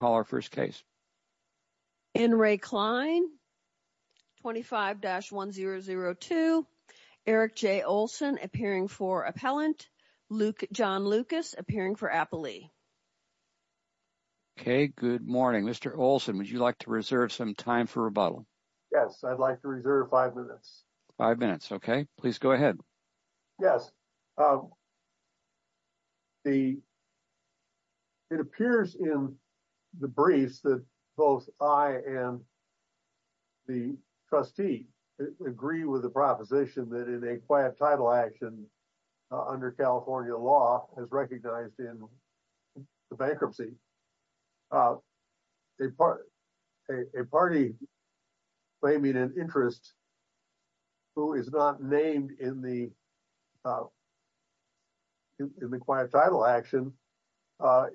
Call our first case. In re Klein. 25-1002 Eric J. Olson appearing for appellant Luke John Lucas appearing for Apolli. Okay, good morning, Mr. Olson, would you like to reserve some time for rebuttal? Yes, I'd like to reserve five minutes five minutes. Okay, please go ahead. Yes. The. It appears in the briefs that both I and the trustee agree with the proposition that in a quiet title action under California law is recognized in the bankruptcy. A part a party claiming an interest who is not named in the In the quiet title action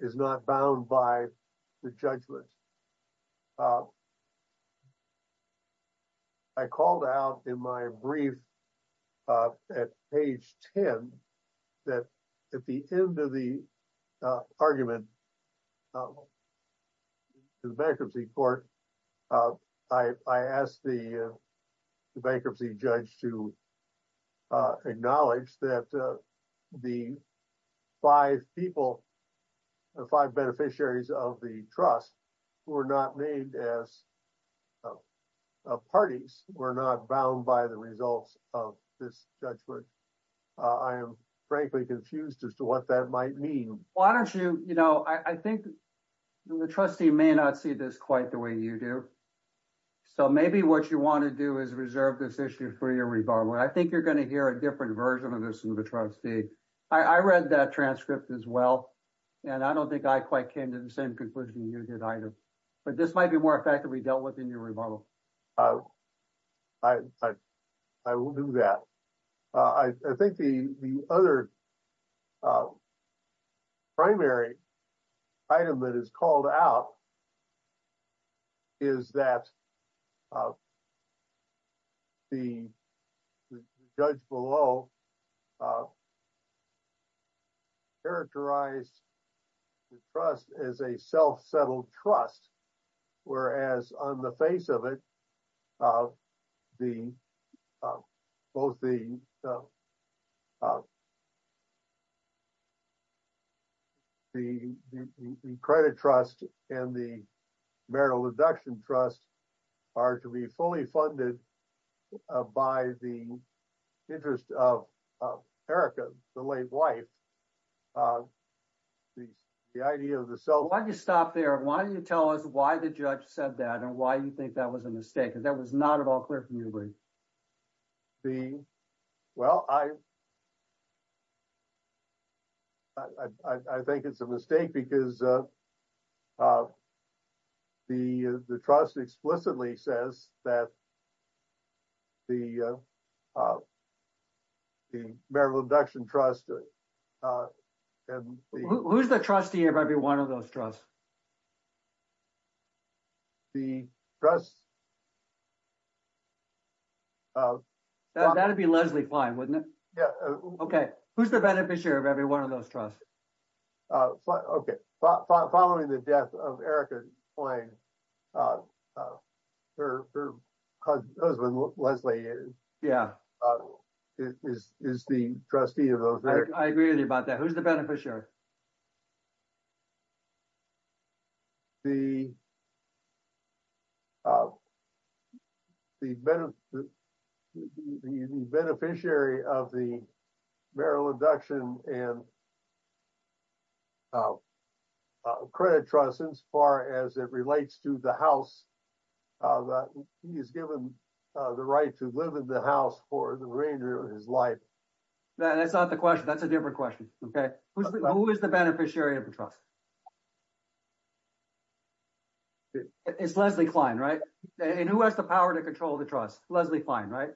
is not bound by the judgment. I called out in my brief at page 10 that at the end of the argument. The bankruptcy court I asked the bankruptcy judge to Acknowledge that the five people, the five beneficiaries of the trust who are not named as parties were not bound by the results of this judgment. I am frankly confused as to what that might mean. Why don't you, I think the trustee may not see this quite the way you do. So maybe what you want to do is reserve this issue for your rebuttal. I think you're going to hear a different version of this in the trustee. I read that transcript as well. And I don't think I quite came to the same conclusion you did either. But this might be more effectively dealt with in your rebuttal. I will do that. I think the other primary item that is called out Is that the judge below characterized the trust as a self-settled trust. Whereas on the face of it, both the credit trust and the marital abduction trust are to be fully funded by the interest of Erika, the late wife. The idea of the self- Why don't you stop there? Why don't you tell us why the judge said that and why you think that was a mistake, because that was not at all clear for me to read. Well, I think it's a mistake because the trust explicitly says that the marital abduction trust Who's the trustee of every one of those trusts? The trust That'd be Leslie Klein, wouldn't it? Yeah. Okay. Who's the beneficiary of every one of those trusts? Okay. Following the death of Erika Klein, her husband Leslie is the trustee of those. I agree with you about that. Who's the beneficiary? The beneficiary of the marital abduction and credit trust, as far as it relates to the house. He is given the right to live in the house for the remainder of his life. That's not the question. That's a different question. Okay. Who is the beneficiary of the trust? It's Leslie Klein, right? And who has the power to control the trust? Leslie Klein, right?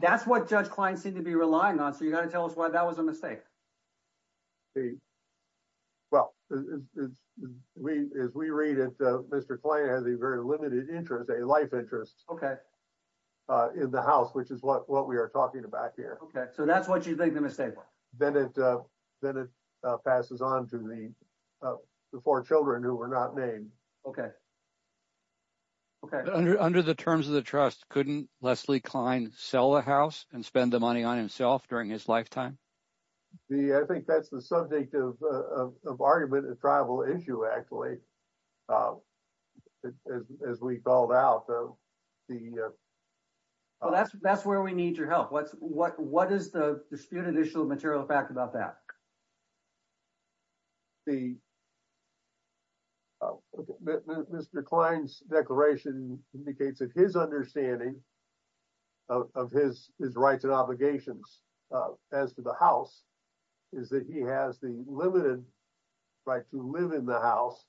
That's what Judge Klein seemed to be relying on. You got to tell us why that was a mistake. Well, as we read it, Mr. Klein has a very limited interest, a life interest in the house, which is what we are talking about here. Okay. So that's what you think the mistake was? Then it passes on to the four children who were not named. Okay. Under the terms of the trust, couldn't Leslie Klein sell the house and spend the money on himself during his lifetime? I think that's the subject of argument and tribal issue, actually, as we called out. That's where we need your help. What is the disputed issue of material fact about that? Mr. Klein's declaration indicates that his understanding of his rights and obligations as to the house is that he has the limited right to live in the house.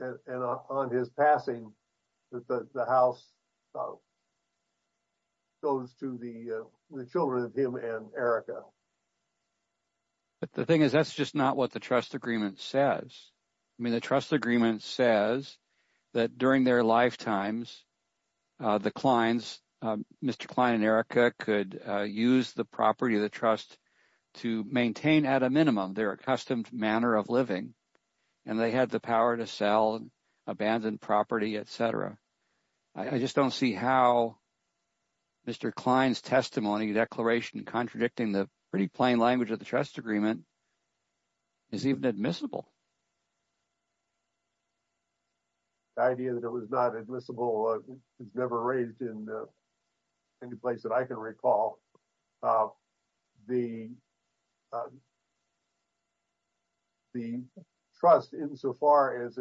And on his passing, the house goes to the children of him and Erica. But the thing is, that's just not what the trust agreement says. I mean, the trust agreement says that during their lifetimes, the clients, Mr. Klein and Erica could use the property of the trust to maintain at a minimum their accustomed manner of living. And they had the power to sell abandoned property, et cetera. I just don't see how Mr. Klein's testimony declaration contradicting the pretty plain language of the trust agreement is even admissible. The idea that it was not admissible is never raised in any place that I can recall. The trust, insofar as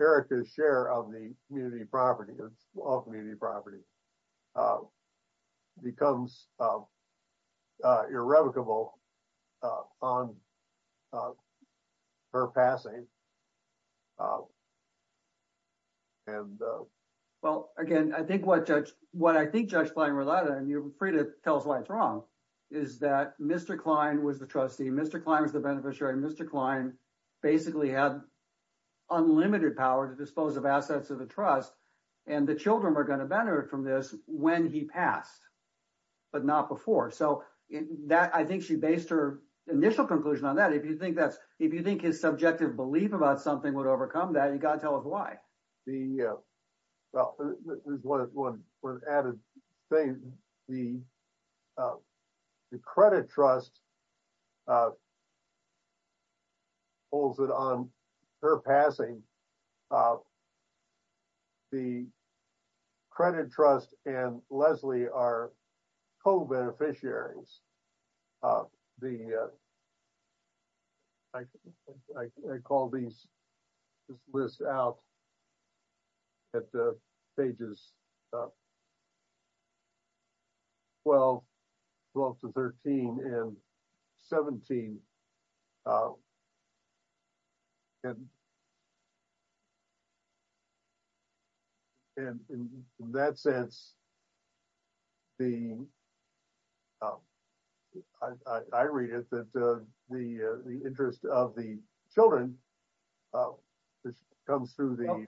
Erica's share of the community property, of all community property, becomes irrevocable on her passing. Well, again, what I think Judge Klein related, and you're free to tell us why it's wrong, is that Mr. Klein was the trustee, Mr. Klein was the beneficiary, Mr. Klein basically had unlimited power to dispose of assets of the trust. And the children were gonna benefit from this when he passed, but not before. So I think she based her initial conclusion on that. If you think his subjective belief about something would overcome that, you gotta tell us why. The, well, there's one added thing. The credit trust holds it on her passing. The credit trust and Leslie are co-beneficiaries. I call this list out at the pages 12, 12 to 13 and 17. And in that sense, I read it that the interest of the children comes through the-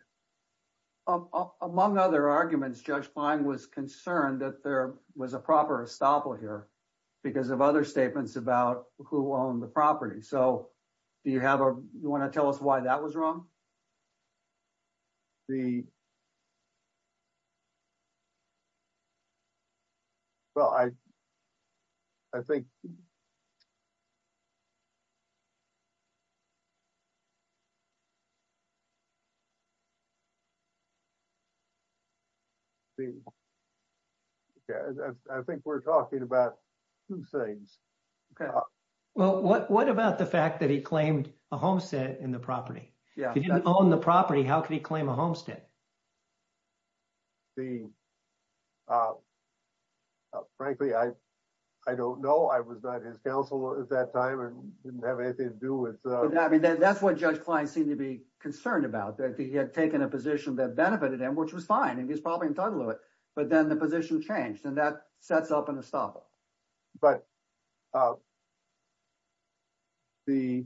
Among other arguments, Judge Klein was concerned that there was a proper estoppel here because of other statements about who owned the property. So do you have a, you wanna tell us why that was wrong? The, well, I think, I think we're talking about two things. Well, what about the fact that he claimed a homestead in the property? If he didn't own the property, how could he claim a homestead? The, frankly, I don't know. I was not his counsel at that time and didn't have anything to do with- I mean, that's what Judge Klein seemed to be concerned about, that he had taken a position that benefited him, which was fine, and he's probably entitled to it. But then the position changed and that sets up an estoppel. But the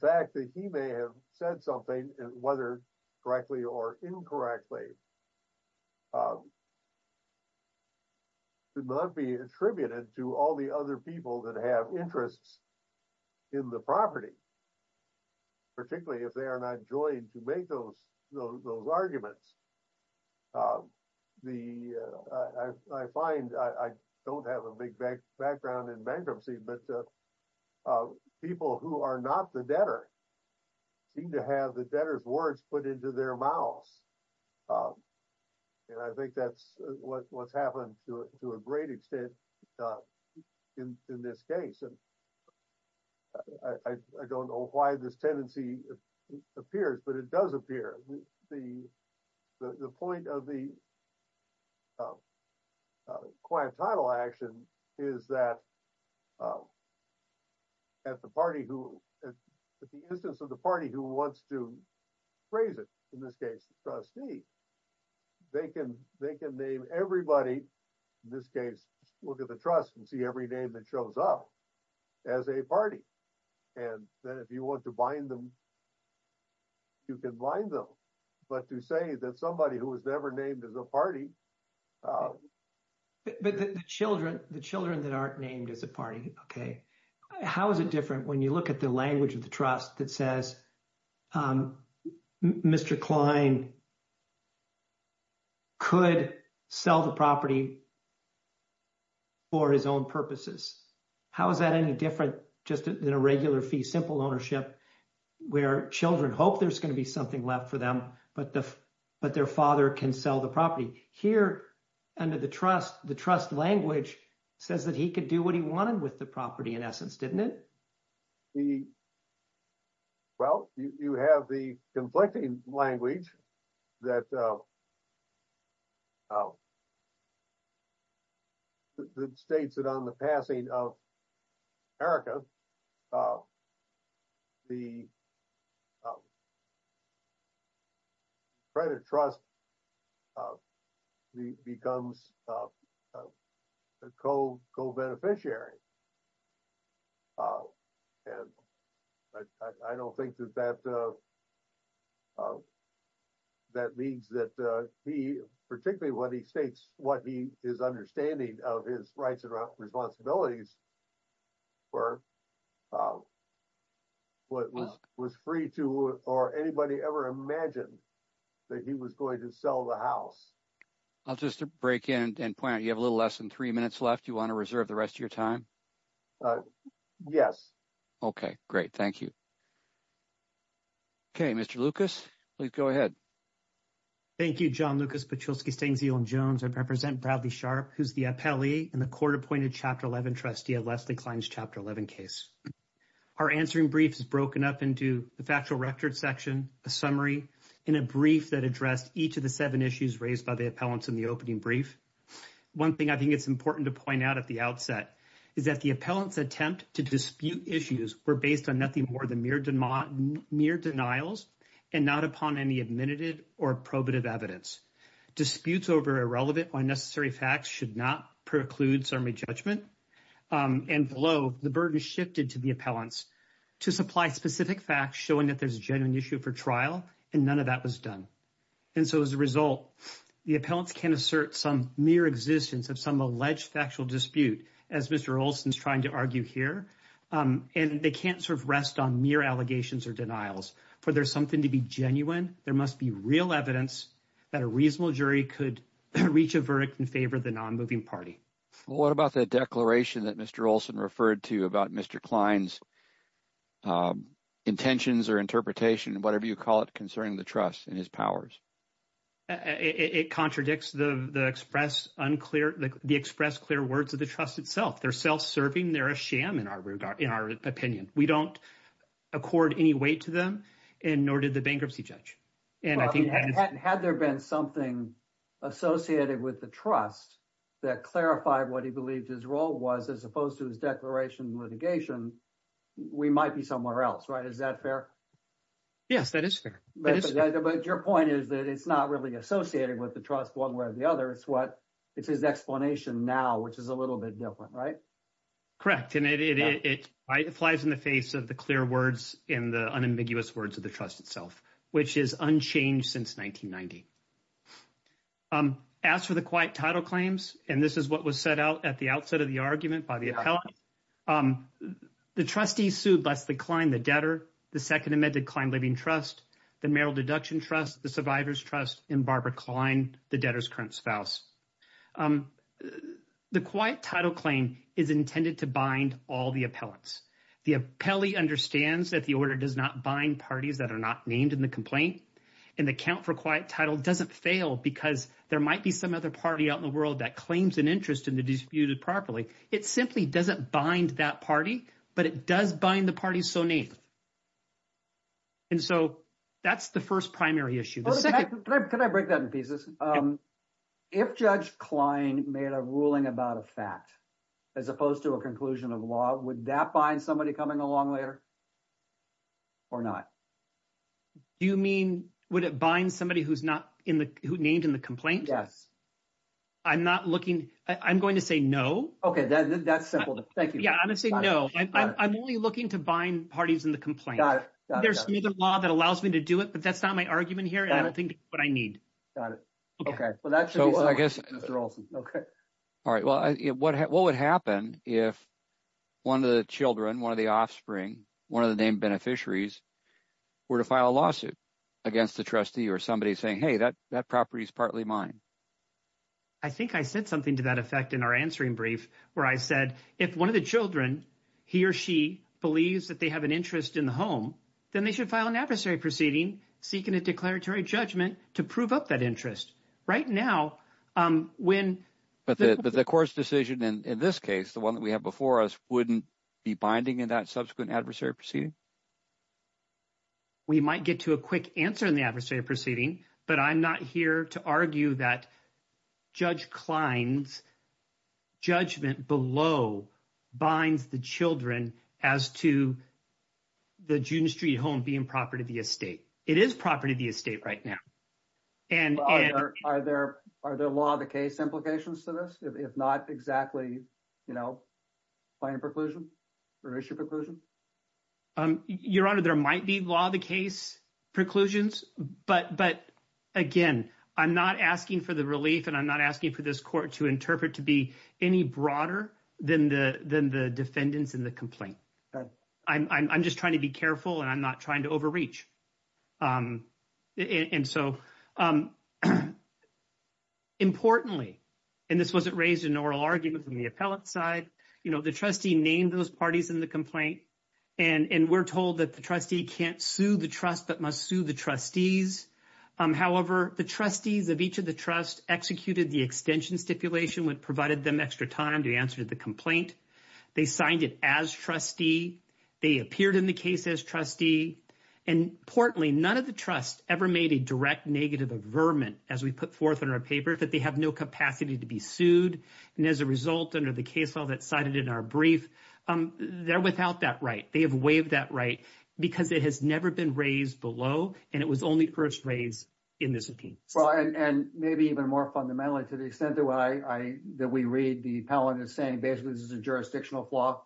fact that he may have said something, whether correctly or incorrectly, could not be attributed to all the other people that have interests in the property, particularly if they are not joined to make those arguments. The, I find, I don't have a big background in bankruptcy, but people who are not the debtor seem to have the debtor's words put into their mouths. And I think that's what's happened to a great extent in this case. And I don't know why this tendency appears, but it does appear. The point of the quiet title action is that at the party who, at the instance of the party who wants to raise it, in this case, the trustee, they can name everybody, in this case, look at the trust and see every name that shows up as a party. And then if you want to bind them, you can bind them. But to say that somebody who was never named as a party. But the children that aren't named as a party, okay. How is it different when you look at the language of the trust that says, Mr. Klein could sell the property for his own purposes? How is that any different just than a regular fee simple ownership where children hope there's going to be something left for them, but their father can sell the property? Here under the trust, the trust language says that he could do what he wanted with the property in essence, didn't it? Well, you have the conflicting language that states that on the passing of Erika, the credit trust becomes a co-beneficiary. And I don't think that that means that he, particularly what he states, what he is understanding of his rights and responsibilities for what was free to or anybody ever imagined that he was going to sell the house. I'll just break in and point out, you have a little less than three minutes left. You want to reserve the rest of your time? Uh, yes. Okay, great. Thank you. Okay, Mr. Lucas, please go ahead. Thank you, John Lucas, Patrulski, Stangziel, and Jones. I represent Bradley Sharp, who's the appellee in the court-appointed Chapter 11 trustee of Leslie Klein's Chapter 11 case. Our answering brief is broken up into the factual record section, a summary, and a brief that addressed each of the seven issues raised by the appellants in the opening brief. One thing I think it's important to point out at the outset is that the appellants' attempt to dispute issues were based on nothing more than mere denials and not upon any admitted or probative evidence. Disputes over irrelevant or unnecessary facts should not preclude summary judgment. And below, the burden shifted to the appellants to supply specific facts showing that there's a genuine issue for trial, and none of that was done. And so as a result, the appellants can assert some mere existence of some alleged factual dispute as Mr. Olson's trying to argue here, and they can't sort of rest on mere allegations or denials. For there's something to be genuine, there must be real evidence that a reasonable jury could reach a verdict in favor of the non-moving party. What about the declaration that Mr. Olson referred to about Mr. Klein's intentions or interpretation, whatever you call it, concerning the trust and his powers? It contradicts the expressed clear words of the trust itself. They're self-serving. They're a sham in our opinion. We don't accord any weight to them, and nor did the bankruptcy judge. Had there been something associated with the trust that clarified what he believed his role was, as opposed to his declaration of litigation, we might be somewhere else, right? Is that fair? Yes, that is fair. But your point is that it's not really associated with the trust one way or the other. It's his explanation now, which is a little bit different, right? Correct, and it flies in the face of the clear words and the unambiguous words of the trust itself, which is unchanged since 1990. As for the quiet title claims, and this is what was set out at the outset of the argument by the appellate, the trustees sued Leslie Klein, the debtor, the second amended Klein Living Trust, the Merrill Deduction Trust, the Survivors Trust, and Barbara Klein, the debtor's current spouse. The quiet title claim is intended to bind all the appellants. The appellee understands that the order does not bind parties that are not named in the complaint, and the count for quiet title doesn't fail because there might be some other party out in the world that claims an interest in the disputed properly. It simply doesn't bind that party, but it does bind the parties so named. And so that's the first primary issue. The second- Can I break that in pieces? If Judge Klein made a ruling about a fact, as opposed to a conclusion of law, would that bind somebody coming along later or not? Do you mean, would it bind somebody who's not named in the complaint? Yes. I'm not looking, I'm going to say no. Okay, that's simple, thank you. Yeah, I'm gonna say no. I'm only looking to bind parties in the complaint. Got it. There's another law that allows me to do it, but that's not my argument here, and I don't think it's what I need. Got it. Okay. I guess- All right, well, what would happen if one of the children, one of the offspring, one of the named beneficiaries were to file a lawsuit against the trustee or somebody saying, hey, that property is partly mine? I think I said something to that effect in our answering brief, where I said, if one of the children, he or she, believes that they have an interest in the home, then they should file an adversary proceeding seeking a declaratory judgment to prove up that interest. Right now, when- But the court's decision in this case, the one that we have before us, wouldn't be binding in that subsequent adversary proceeding? We might get to a quick answer in the adversary proceeding, but I'm not here to argue that Judge Klein's judgment below binds the children as to the June Street home being property of the estate. It is property of the estate right now. And- Are there law of the case implications to this, if not exactly, you know, finding preclusion or issue preclusion? Your Honor, there might be law of the case preclusions, but again, I'm not asking for the relief and I'm not asking for this court to interpret to be any broader than the defendants in the complaint. I'm just trying to be careful and I'm not trying to overreach. And so, importantly, and this wasn't raised in oral argument from the appellate side, you know, the trustee named those parties in the complaint and we're told that the trustee can't sue the trust but must sue the trustees. However, the trustees of each of the trust executed the extension stipulation which provided them extra time to answer to the complaint. They signed it as trustee. They appeared in the case as trustee. And importantly, none of the trust ever made a direct negative averment as we put forth in our paper that they have no capacity to be sued. And as a result, under the case file that cited in our brief, they're without that right. They have waived that right because it has never been raised below and it was only first raised in this opinion. Well, and maybe even more fundamentally to the extent that we read the appellate saying basically this is a jurisdictional flaw.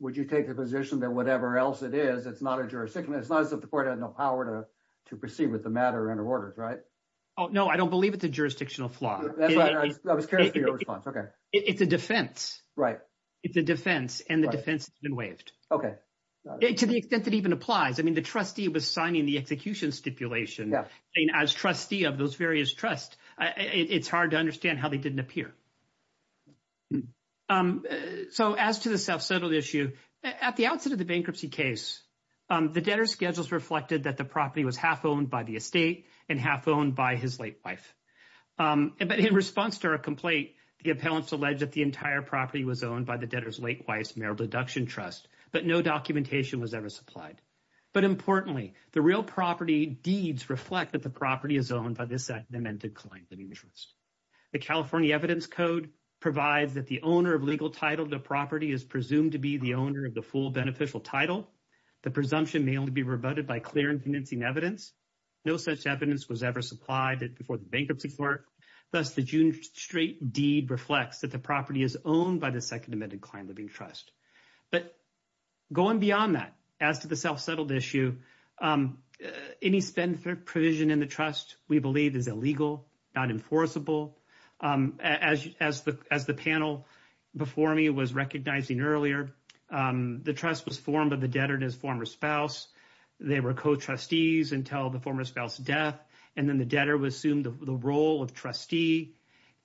Would you take the position that whatever else it is, it's not a jurisdiction? It's not as if the court had no power to proceed with the matter under orders, right? Oh, no, I don't believe it's a jurisdictional flaw. I was curious for your response. Okay. It's a defense. Right. It's a defense and the defense has been waived. Okay. To the extent that even applies. I mean, the trustee was signing the execution stipulation. As trustee of those various trust, it's hard to understand how they didn't appear. Um, so as to the self settled issue at the outset of the bankruptcy case, the debtor schedules reflected that the property was half owned by the estate and half owned by his late wife. But in response to our complaint, the appellants alleged that the entire property was owned by the debtor's late wife's marital deduction trust, but no documentation was ever supplied. But importantly, the real property deeds reflect that the property is owned by this segmented client. The California evidence code provides that the owner of legal title to property is presumed to be the owner of the full beneficial title. The presumption may only be rebutted by clear and convincing evidence. No such evidence was ever supplied before the bankruptcy court. Thus, the June straight deed reflects that the property is owned by the second amended client living trust. But going beyond that, as to the self settled issue, any spend for provision in the trust, we believe is illegal, not enforceable. As as the as the panel before me was recognizing earlier, the trust was formed by the debtor and his former spouse. They were co trustees until the former spouse death, and then the debtor was assumed the role of trustee.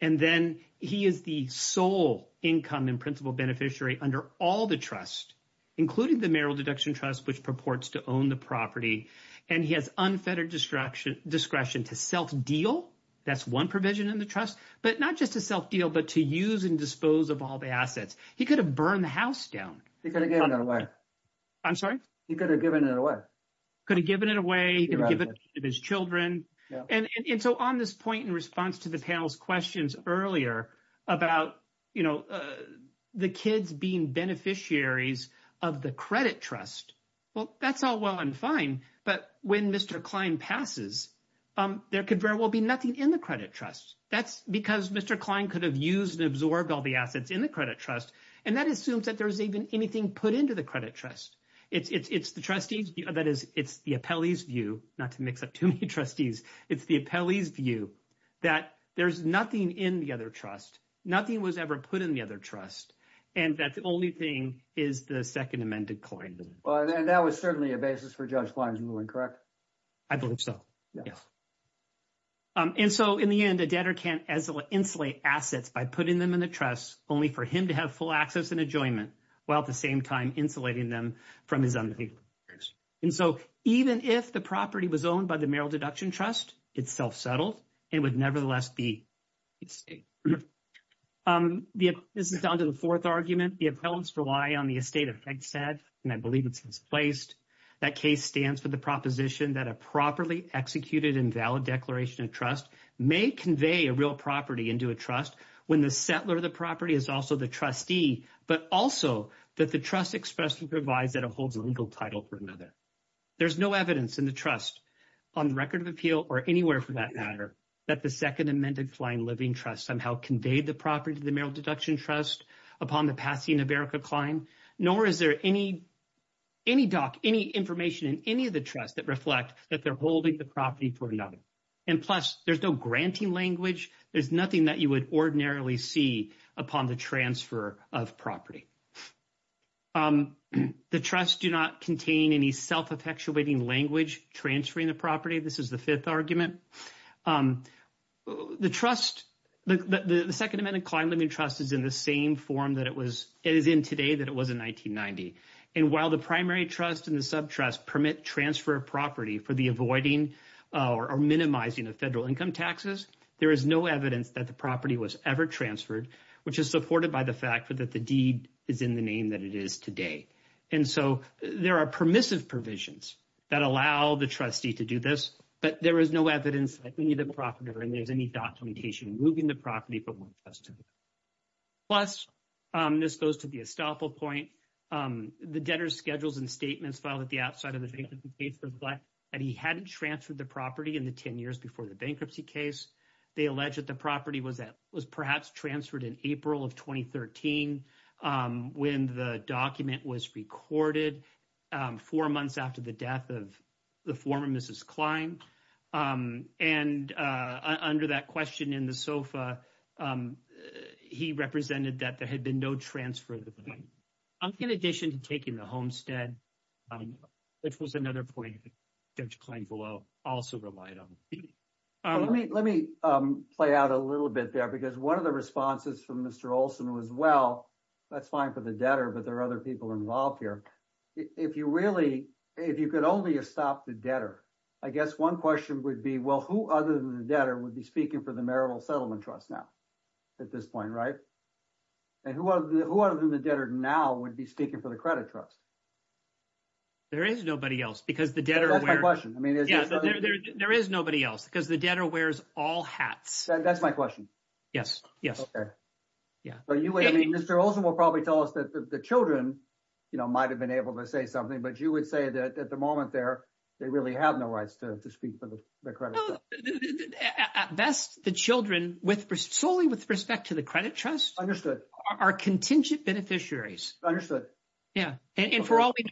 And then he is the sole income in principle beneficiary under all the trust, including the marital deduction trust, which purports to own the property. And he has unfettered destruction discretion to self deal. That's one provision in the trust, but not just a self deal, but to use and dispose of all the assets. He could have burned the house down. He could have given it away. I'm sorry. He could have given it away. Could have given it away. He could give it to his children. And so on this point, in response to the panel's questions earlier about, you know, the kids being beneficiaries of the credit trust. Well, that's all well and fine. But when Mr. Klein passes, there could very well be nothing in the credit trust. That's because Mr. Klein could have used and absorbed all the assets in the credit trust. And that assumes that there's even anything put into the credit trust. It's the trustees. That is, it's the appellee's view, not to mix up too many trustees. It's the appellee's view that there's nothing in the other trust. Nothing was ever put in the other trust. And that the only thing is the second amended claim. Well, and that was certainly a basis for Judge Klein's ruling, correct? I believe so. Yes. And so in the end, a debtor can't insulate assets by putting them in the trust, only for him to have full access and enjoyment, while at the same time insulating them from his unpaid loans. And so even if the property was owned by the Merrill Deduction Trust, it's self-settled, and would nevertheless be the estate. This is down to the fourth argument. The appellants rely on the estate effect set, and I believe it's misplaced. That case stands for the proposition that a properly executed and valid declaration of trust may convey a real property into a trust when the settler of the property is also the trustee, but also that the trust expressly provides that it holds a legal title for another. There's no evidence in the trust on record of appeal or anywhere for that matter, that the second amended claim living trust somehow conveyed the property to the Merrill Deduction Trust upon the passing of Erica Klein, nor is there any doc, any information in any of the trust that reflect that they're holding the property for another. And plus, there's no granting language. There's nothing that you would ordinarily see upon the transfer of property. The trust do not contain any self-effectuating language transferring the property. This is the fifth argument. The trust, the second amended claim living trust is in the same form that it was, it is in today that it was in 1990. And while the primary trust and the sub-trust permit transfer of property for the avoiding or minimizing of federal income taxes, there is no evidence that the property was ever transferred, which is supported by the fact for that the deed is in the name that it is today. And so there are permissive provisions that allow the trustee to do this, but there is no evidence that any of the property and there's any documentation moving the property. Plus, this goes to the estoppel point, the debtor's schedules and statements filed at the outside of the case reflect that he hadn't transferred the property in the 10 years before the bankruptcy case. They allege that the property was that was perhaps transferred in April of 2013 when the document was recorded four months after the death of the former Mrs. Klein. And under that question in the SOFA, he represented that there had been no transfer. I'm in addition to taking the homestead, which was another point that Judge Klein below also relied on. Let me play out a little bit there because one of the responses from Mr. Olson was, well, that's fine for the debtor, but there are other people involved here. If you really, if you could only stop the debtor, I guess one question would be, well, who other than the debtor would be speaking for the Marital Settlement Trust now at this point, right? And who other than the debtor now would be speaking for the Credit Trust? There is nobody else because the debtor... That's my question. There is nobody else because the debtor wears all hats. That's my question. Yes, yes. Yeah. Mr. Olson will probably tell us that the children might have been able to say something, but you would say that at the moment there, they really have no rights to speak for the credit. At best, the children with, solely with respect to the Credit Trust... ...are contingent beneficiaries. Understood. Yeah. And for all we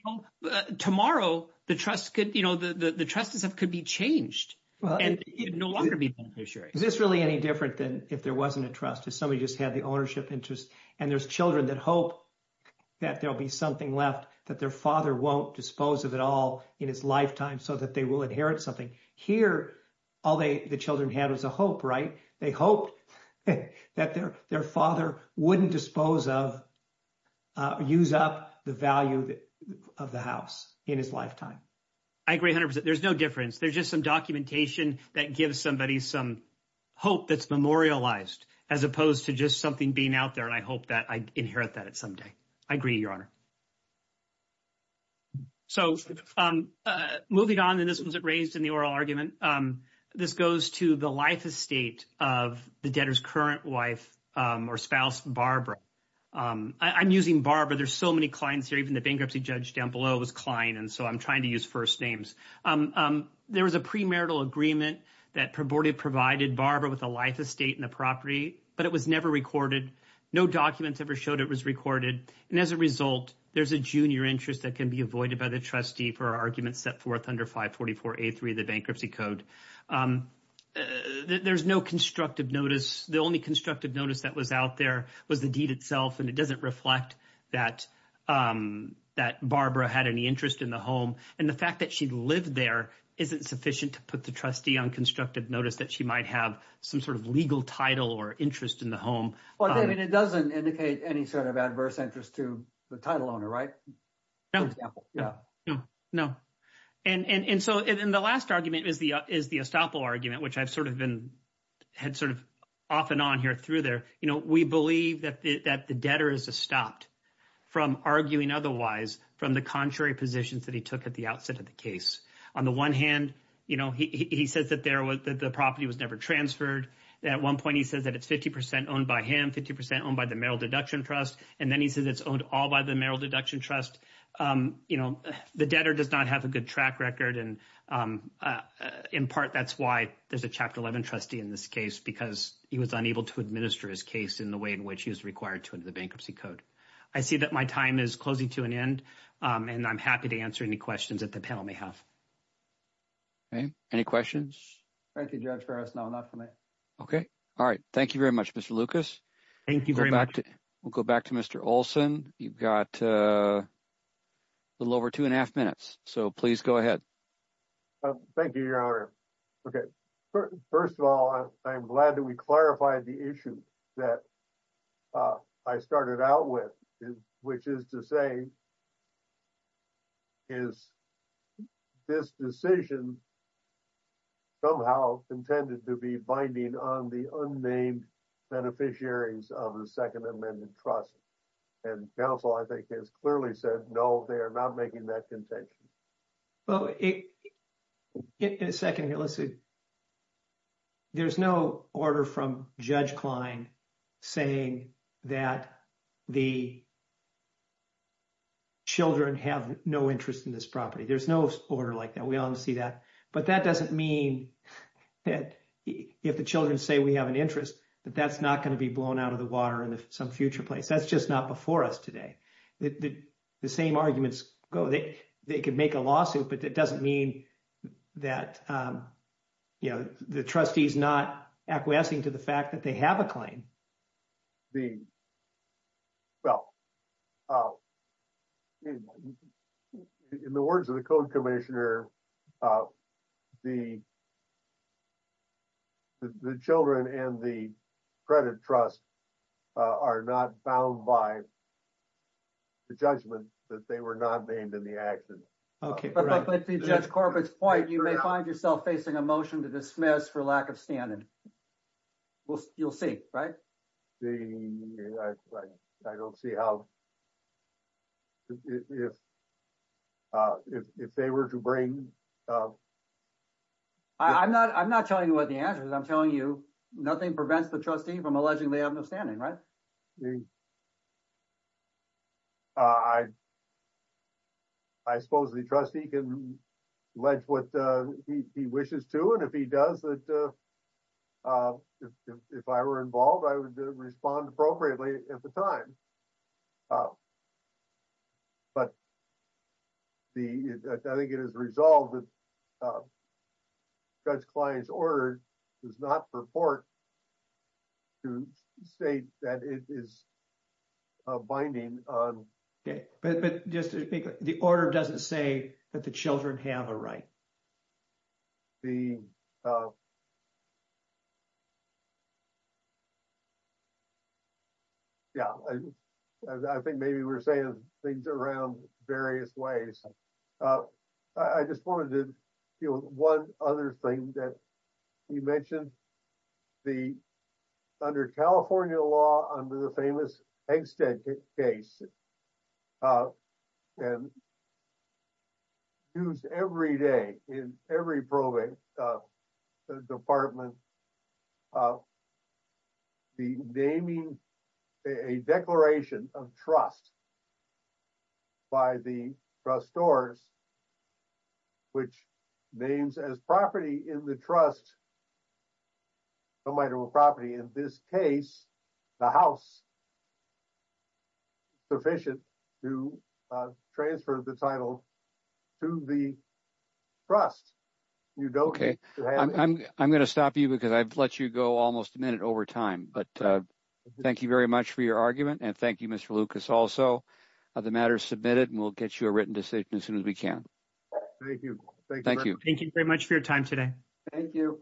know, tomorrow the trust could, you know, the trust itself could be changed and no longer be a beneficiary. Is this really any different than if there wasn't a trust? If somebody just had the ownership interest and there's children that hope that there'll be something left, that their father won't dispose of it all in his lifetime so that they will inherit something. Here, all the children had was a hope, right? They hoped that their father wouldn't dispose of, use up the value of the house in his lifetime. I agree 100%. There's no difference. There's just some documentation that gives somebody some hope that's memorialized as opposed to just something being out there. And I hope that I inherit that someday. I agree, Your Honor. So moving on, and this was raised in the oral argument, this goes to the life estate of the debtor's current wife or spouse, Barbara. I'm using Barbara. There's so many Klein's here. Even the bankruptcy judge down below was Klein. And so I'm trying to use first names. There was a premarital agreement that provided Barbara with a life estate in the property, but it was never recorded. No documents ever showed it was recorded. And as a result, there's a junior interest that can be avoided by the trustee for arguments set forth under 544A3, the bankruptcy code. There's no constructive notice. The only constructive notice that was out there was the deed itself. And it doesn't reflect that Barbara had any interest in the home. And the fact that she lived there isn't sufficient to put the trustee on constructive notice that she might have some sort of legal title or interest in the home. Well, I mean, it doesn't indicate any sort of adverse interest to the title owner, right? No, no, no. And so in the last argument is the estoppel argument, which I've sort of been had sort of off and on here through there. You know, we believe that the debtor is stopped from arguing otherwise from the contrary positions that he took at the outset of the case. On the one hand, you know, he says that there was that the property was never transferred. At one point, he says that it's 50% owned by him, 50% owned by the Merrill Deduction Trust. And then he says it's owned all by the Merrill Deduction Trust. You know, the debtor does not have a good track record. And in part, that's why there's a Chapter 11 trustee in this case, because he was unable to administer his case in the way in which he was required to enter the bankruptcy code. I see that my time is closing to an end. And I'm happy to answer any questions that the panel may have. Okay, any questions? Thank you, Judge Farris. No, not for me. Okay. All right. Thank you very much, Mr. Lucas. Thank you very much. We'll go back to Mr. Olson. You've got a little over two and a half minutes. So please go ahead. Thank you, Your Honor. Okay, first of all, I'm glad that we clarified the issue that I started out with, which is to say, is this decision somehow intended to be binding on the unnamed beneficiaries of the Second Amendment Trust? And counsel, I think, has clearly said, no, they are not making that contention. Well, in a second here, there's no order from Judge Klein saying that the children have no interest in this property. There's no order like that. We don't see that. But that doesn't mean that if the children say we have an interest, that that's not going to be blown out of the water in some future place. That's just not before us today. The same arguments go. They could make a lawsuit, but that doesn't mean that the trustee is not acquiescing to the fact that they have a claim. Well, in the words of the Code Commissioner, the children and the credit trust are not bound by the judgment that they were not named in the action. Okay. But to Judge Corbett's point, you may find yourself facing a motion to dismiss for lack of standard. You'll see, right? I don't see how... If they were to bring... I'm not telling you what the answer is. I'm telling you nothing prevents the trustee from alleging they have no standing, right? I suppose the trustee can allege what he wishes to. And if he does, if I were involved, I would respond appropriately at the time. But I think it is resolved that Judge Klein's order does not purport to state that it is binding on... But just to be clear, the order doesn't say that the children have a right. Yeah, I think maybe we're saying things around various ways. I just wanted to do one other thing that you mentioned. Under California law, under the famous Eggstead case, and used every day in every probate department, the naming a declaration of trust by the trustors, which names as property in the trust a minor or property. In this case, the house is sufficient to transfer the title to the trust. You don't need to have... Okay, I'm going to stop you because I've let you go almost a minute over time. But thank you very much for your argument. And thank you, Mr. Lucas, also, the matter is submitted and we'll get you a written decision as soon as we can. Thank you. Thank you. Thank you very much for your time today. Thank you. Thank you.